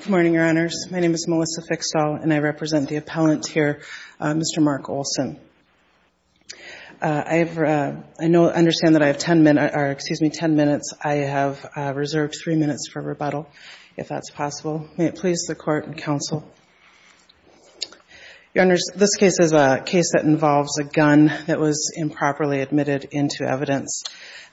Good morning, Your Honors. My name is Melissa Fixall, and I represent the appellant here, Mr. Mark Olson. I understand that I have 10 minutes. I have reserved 3 minutes for rebuttal, if that's possible. May it please the Court and counsel? Your Honors, this case is a case that involves a gun that was improperly admitted into evidence.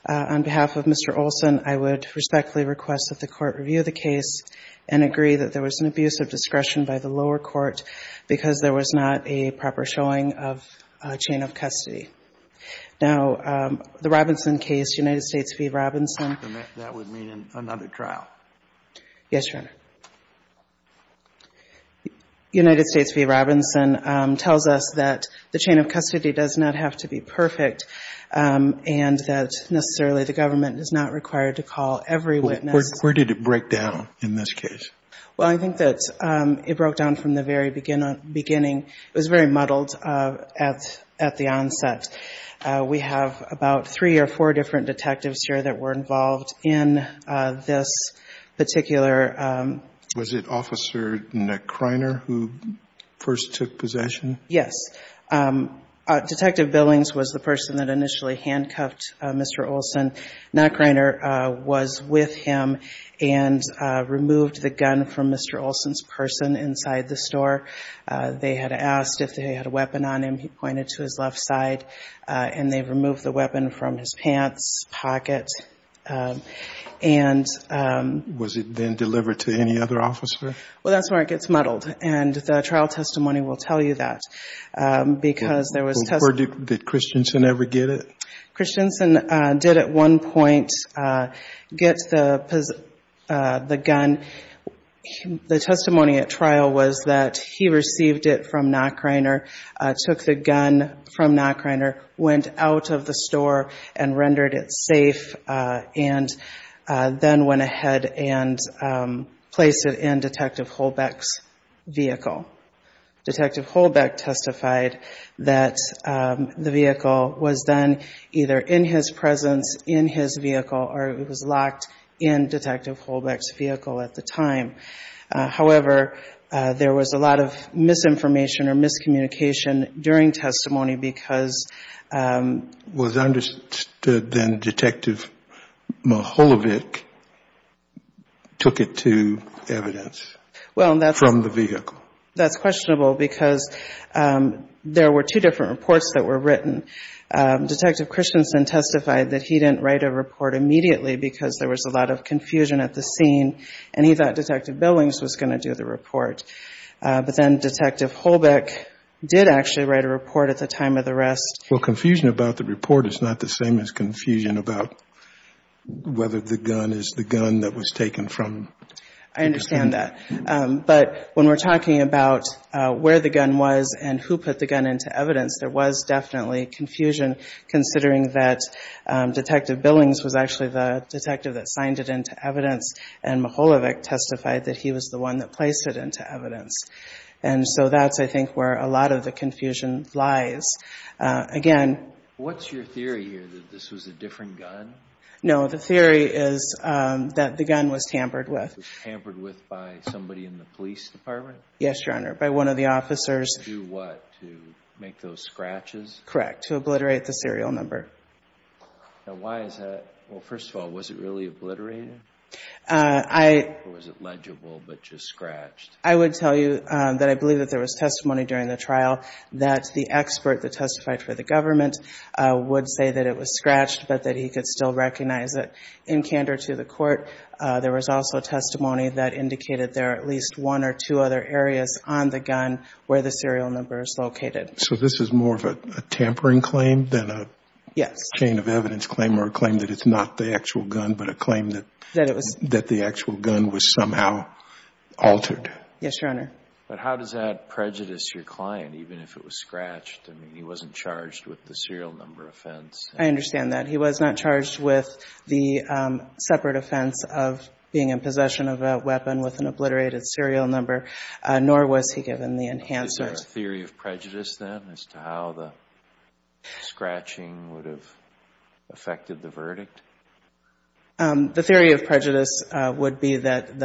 On behalf of Mr. Olson, I would respectfully request that the Court review the case and agree that there was an abuse of discretion by the lower court because there was not a proper showing of a chain of custody. Now, the Robinson case, United States v. Robinson That would mean another trial. Yes, Your Honor. United States v. Robinson tells us that the chain of custody does not have to be perfect, and that necessarily the government is not required to call every witness. Where did it break down in this case? Well, I think that it broke down from the very beginning. It was very muddled at the onset. We have about 3 or 4 different detectives here that were involved in this particular Was it Officer Knackreiner who first took possession? Yes. Detective Billings was the person that initially handcuffed Mr. Olson. Knackreiner was with him and removed the gun from Mr. Olson's person inside the store. They had asked if they had a weapon on him. He pointed to his left side, and they removed the weapon from his pants, pocket, and Was it then delivered to any other officer? Well, that's where it gets muddled, and the trial testimony will tell you that. Did Christensen ever get it? Christensen did at one point get the gun. The testimony at trial was that he received it from Knackreiner, took the gun from Knackreiner, went out of the store and rendered it safe, and then went ahead and placed it in Detective Holbeck's vehicle. Detective Holbeck testified that the vehicle was then either in his presence, in his vehicle, or it was locked in Detective Holbeck's vehicle at the time. However, there was a lot of misinformation or miscommunication during testimony because Was it understood then that Detective Mihaljevic took it to evidence from the vehicle? That's questionable because there were two different reports that were written. Detective Christensen testified that he didn't write a report immediately because there was a lot of confusion at the scene, and he thought Detective Billings was going to do the report. But then Detective Holbeck did actually write a report at the time of the arrest. Well, confusion about the report is not the same as confusion about whether the gun is the gun that was taken from him. I understand that. But when we're talking about where the gun was and who put the gun into evidence, there was definitely confusion, considering that Detective Billings was actually the detective that signed it into evidence. And Mihaljevic testified that he was the one that placed it into evidence. And so that's, I think, where a lot of the confusion lies. Again, What's your theory here, that this was a different gun? No, the theory is that the gun was tampered with. Tampered with by somebody in the police department? Yes, Your Honor, by one of the officers. To do what? To make those scratches? Correct. To obliterate the serial number. Now, why is that? Well, first of all, was it really obliterated? Or was it legible, but just scratched? I would tell you that I believe that there was testimony during the trial that the expert that testified for the government would say that it was scratched, but that he could still recognize it. In candor to the court, there was also testimony that indicated there are at least one or two other areas on the gun where the serial number is located. So this is more of a tampering claim than a chain of evidence claim, or a claim that it's not the actual gun, but a claim that the actual gun was somehow altered? Yes, Your Honor. But how does that prejudice your client, even if it was scratched? I mean, he wasn't charged with the serial number offense. I understand that. He was not charged with the separate offense of being in possession of a weapon with an obliterated serial number, nor was he given the enhancer. Is there a theory of prejudice, then, as to how the scratching would have affected the verdict? The theory of prejudice would be that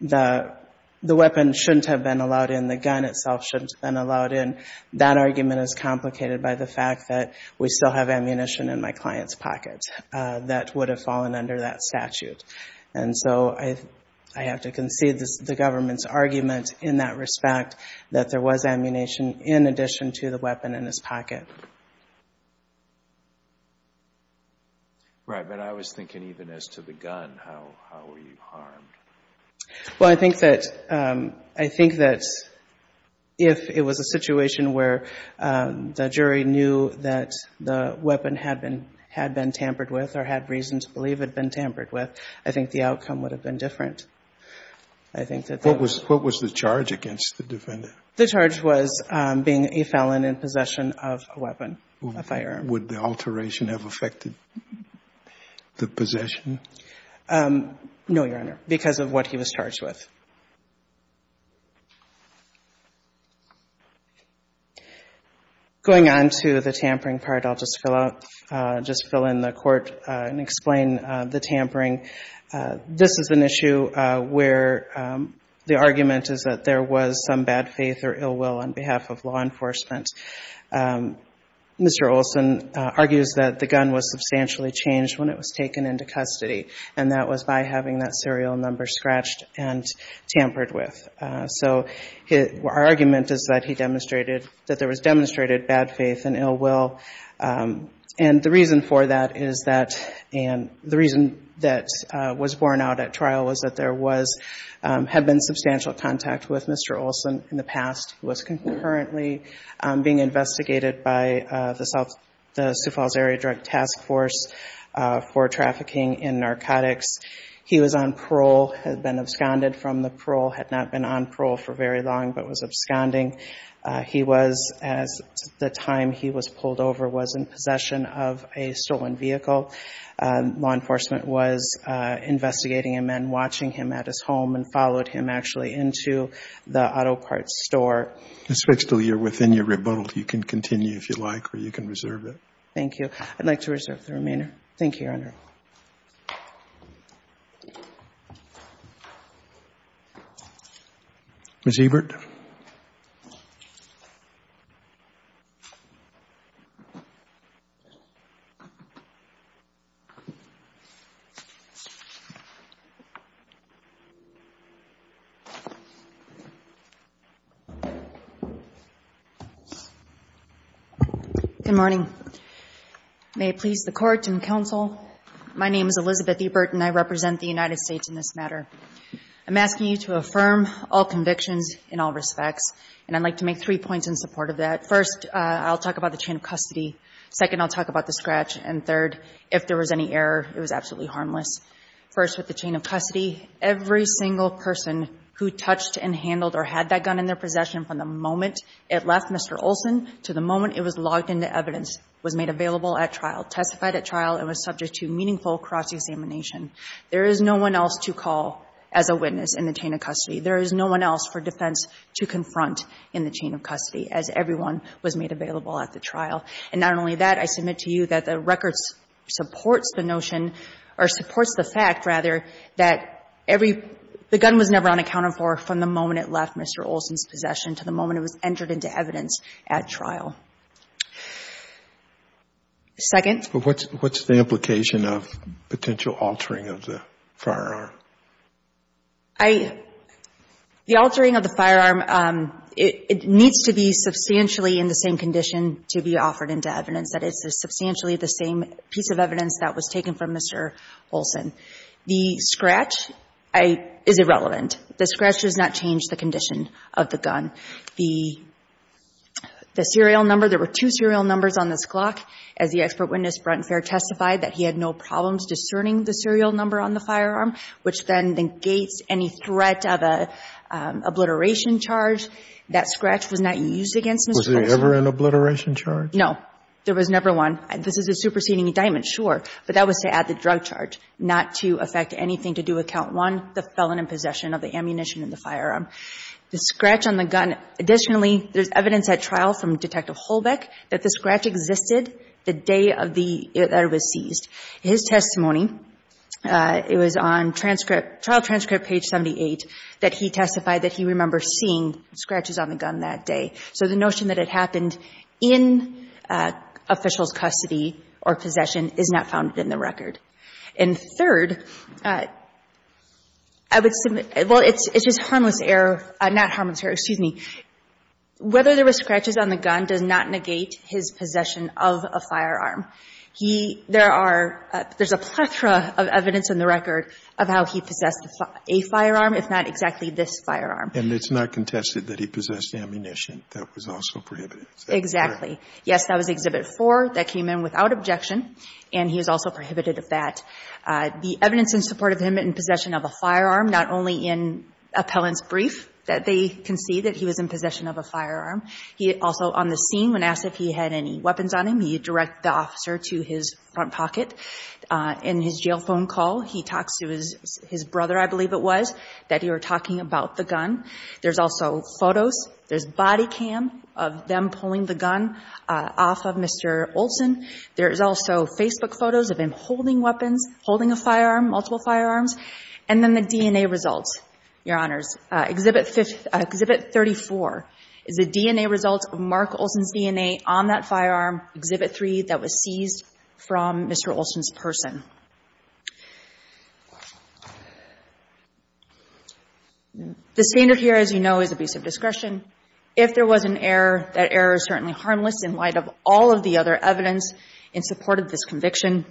the weapon shouldn't have been allowed in, the gun itself shouldn't have been allowed in. That argument is complicated by the fact that we still have ammunition in my client's pocket that would have fallen under that statute. And so I have to concede the government's argument in that respect, that there was ammunition in addition to the weapon in his pocket. Right. But I was thinking even as to the gun, how were you harmed? Well, I think that, I think that if it was a situation where the jury knew that the weapon had been tampered with or had reason to believe it had been tampered with, I think the outcome would have been different. I think that that was. What was the charge against the defendant? The charge was being a felon in possession of a weapon, a firearm. Would the alteration have affected the possession? No, Your Honor, because of what he was charged with. Going on to the tampering part, I'll just fill out, just fill in the court and explain the tampering. This is an issue where the argument is that there was some bad faith or ill will on behalf of law enforcement. Mr. Olson argues that the gun was substantially changed when it was taken into custody, and that was by having that serial number scratched and tampered with. So our argument is that he demonstrated, that there was demonstrated bad faith and ill will, and the reason for that is that, and the reason that was borne out at trial was that there was, had been substantial contact with Mr. Olson in the past. He was concurrently being investigated by the South, the Sioux Falls Area Drug Task Force for trafficking in narcotics. He was on parole, had been absconded from the parole, had not been on parole for very long, but was absconding. He was, as the time he was pulled over, was in possession of a stolen vehicle. Law enforcement was investigating him and watching him at his home and followed him actually into the auto parts store. It's fixed until you're within your rebuttal. You can continue if you'd like, or you can reserve it. Thank you. I'd like to reserve the remainder. Thank you, Your Honor. Ms. Ebert. Good morning. May it please the court and counsel, my name is Elizabeth Ebert and I represent the United States in this matter. I'm asking you to affirm all convictions in all respects, and I'd like to make three points in support of that. First, I'll talk about the chain of custody. Second, I'll talk about the scratch. And third, if there was any error, it was absolutely harmless. First, with the chain of custody, every single person who touched and handled or had that gun in their possession from the moment it left Mr. Olson to the moment it was logged into evidence was made available at trial, testified at trial, and was subject to meaningful cross-examination. There is no one else to call as a witness in the chain of custody. There is no one else for defense to confront in the chain of custody, as everyone was made available at the trial. And not only that, I submit to you that the record supports the notion, or supports the fact, rather, that every — the gun was never unaccounted for from the moment it left Mr. Olson's possession to the moment it was entered into evidence at trial. Second? But what's the implication of potential altering of the firearm? I — the altering of the firearm, it needs to be substantially in the same condition to be offered into evidence. That it's substantially the same piece of evidence that was taken from Mr. Olson. The scratch is irrelevant. The scratch does not change the condition of the gun. The serial number — there were two serial numbers on this clock. As the expert witness, Brent Fair, testified, that he had no problems discerning the serial number on the firearm. Which then negates any threat of an obliteration charge. That scratch was not used against Mr. Olson. Was there ever an obliteration charge? No. There was never one. This is a superseding indictment, sure. But that was to add the drug charge, not to affect anything to do with count one, the felon in possession of the ammunition in the firearm. The scratch on the gun — additionally, there's evidence at trial from Detective Holbeck that the scratch existed the day of the — that it was seized. His testimony, it was on transcript — trial transcript page 78, that he testified that he remembers seeing scratches on the gun that day. So the notion that it happened in official's custody or possession is not founded in the record. And third, I would — well, it's just harmless error — not harmless error, excuse me. Whether there were scratches on the gun does not negate his possession of a firearm. He — there are — there's a plethora of evidence in the record of how he possessed a firearm, if not exactly this firearm. And it's not contested that he possessed ammunition that was also prohibited. Is that correct? Exactly. Yes, that was Exhibit 4. That came in without objection. And he is also prohibited of that. The evidence in support of him in possession of a firearm, not only in appellant's brief that they concede that he was in possession of a firearm, he also on the scene when asked if he had any weapons on him, he directed the officer to his front pocket. In his jail phone call, he talks to his brother, I believe it was, that he were talking about the gun. There's also photos. There's body cam of them pulling the gun off of Mr. Olson. There's also Facebook photos of him holding weapons, holding a firearm, multiple firearms. And then the DNA results, Your Honors. Exhibit 34 is the DNA results of Mark Olson's DNA on that firearm, Exhibit 3, that was seized from Mr. Olson's person. The standard here, as you know, is abusive discretion. If there was an error, that error is certainly harmless in light of all of the other evidence in support of this conviction.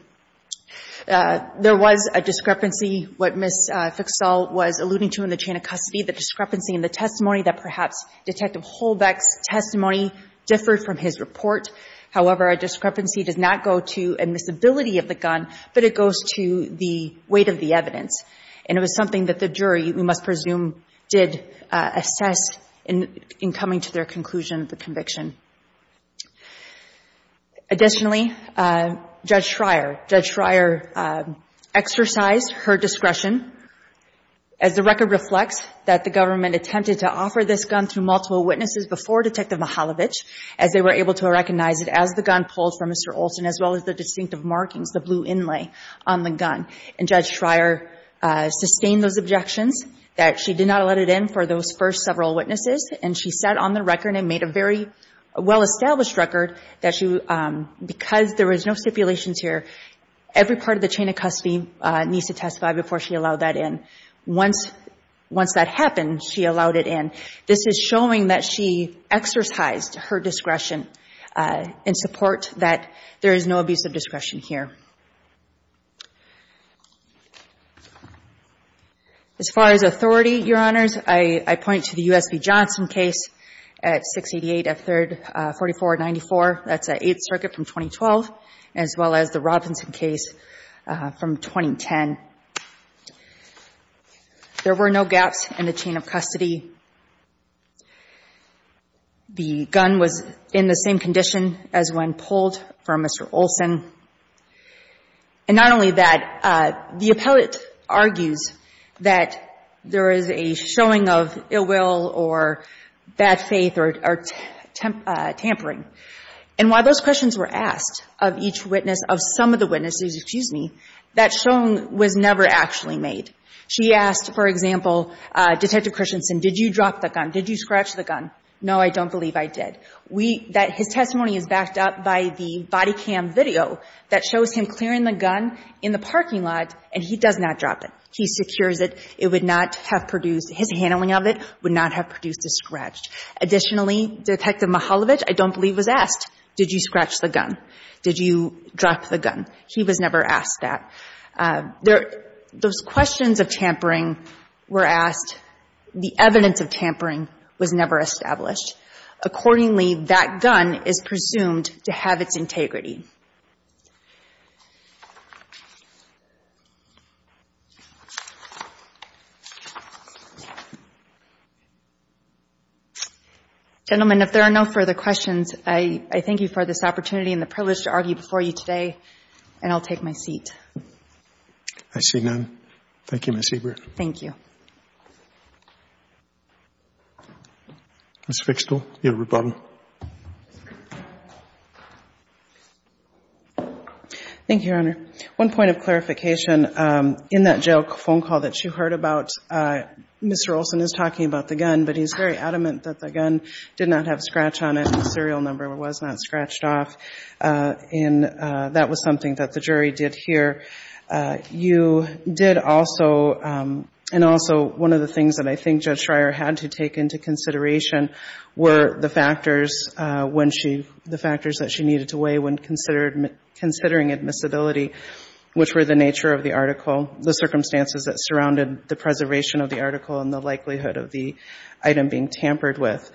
There was a discrepancy, what Ms. Fickstall was alluding to in the chain of custody, the discrepancy in the testimony that perhaps Detective Holbeck's testimony differed from his report. However, a discrepancy does not go to admissibility of the gun, but it goes to the weight of the evidence. And it was something that the jury, we must presume, did assess in coming to their conclusion of the conviction. Additionally, Judge Schreier, Judge Schreier exercised her discretion, as the record reflects, that the government attempted to offer this gun to multiple witnesses before Detective Mihaljevic, as they were able to recognize it as the gun pulled from Mr. Olson, as well as the distinctive markings, the blue inlay on the gun. And Judge Schreier sustained those objections, that she did not let it in for those first several witnesses, and she sat on the record and made a very, very clear well-established record that she, because there was no stipulations here, every part of the chain of custody needs to testify before she allowed that in. Once that happened, she allowed it in. This is showing that she exercised her discretion in support that there is no abuse of discretion here. As far as authority, Your Honors, I point to the USB Johnson case at 688 F3rd 4494, that's the Eighth Circuit from 2012, as well as the Robinson case from 2010. There were no gaps in the chain of custody. The gun was in the same condition as when pulled from Mr. Olson. And not only that, the appellate argues that there is a showing of ill will or bad faith or tampering, and while those questions were asked of each witness, of some of the witnesses, excuse me, that showing was never actually made. She asked, for example, Detective Christensen, did you drop the gun? Did you scratch the gun? No, I don't believe I did. His testimony is backed up by the body cam video that shows him clearing the gun in the parking lot, and he does not drop it. He secures it. It would not have produced, his handling of it would not have produced a scratch. Additionally, Detective Mihaljevic, I don't believe, was asked, did you scratch the gun? Did you drop the gun? He was never asked that. Those questions of tampering were asked. The evidence of tampering was never established. Accordingly, that gun is presumed to have its integrity. Gentlemen, if there are no further questions, I thank you for this opportunity and the privilege to argue before you today, and I'll take my seat. I see none. Thank you, Ms. Hebert. Thank you. Ms. Fichtel, you have a rebuttal. Thank you, Your Honor. One point of clarification, in that jail phone call that you heard about, Mr. Olson is talking about the gun, but he's very adamant that the gun did not have a scratch on it and the serial number was not scratched off, and that was something that the jury did here. You did also, and also one of the things that I think Judge Schreier had to take into consideration were the factors when she, the factors that she needed to weigh when considering admissibility, which were the nature of the article, the circumstances that surrounded the preservation of the article, and the likelihood of the item being tampered with.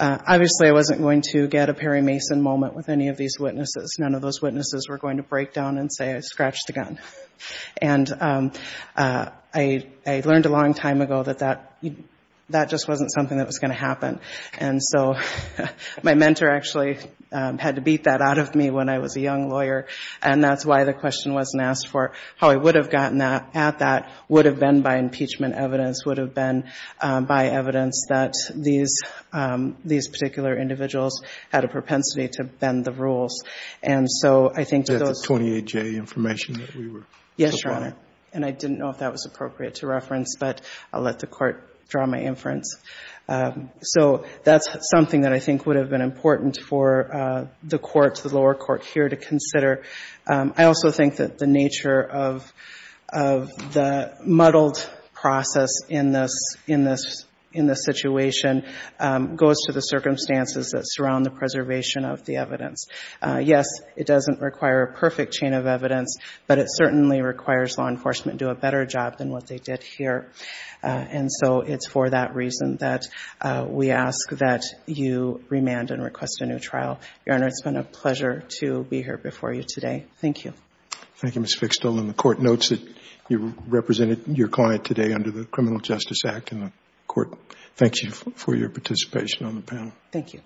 Obviously, I wasn't going to get a Perry Mason moment with any of these witnesses. None of those witnesses were going to break down and say I scratched the gun. I learned a long time ago that that just wasn't something that was going to happen, and so my mentor actually had to beat that out of me when I was a young lawyer, and that's why the question wasn't asked for. How I would have gotten at that would have been by impeachment evidence, would have been by evidence that these particular individuals had a propensity to bend the rules, and so I think to those. That's the 28-J information that we were. Yes, Your Honor, and I didn't know if that was appropriate to reference, but I'll let the Court draw my inference. So that's something that I think would have been important for the Court, the lower court here to consider. I also think that the nature of the muddled process in this situation goes to the Yes, it doesn't require a perfect chain of evidence, but it certainly requires law enforcement to do a better job than what they did here, and so it's for that reason that we ask that you remand and request a new trial. Your Honor, it's been a pleasure to be here before you today. Thank you. Thank you, Ms. Fixtel, and the Court notes that you represented your client today under the Criminal Justice Act, and the Court thanks you for your participation on the panel. Thank you.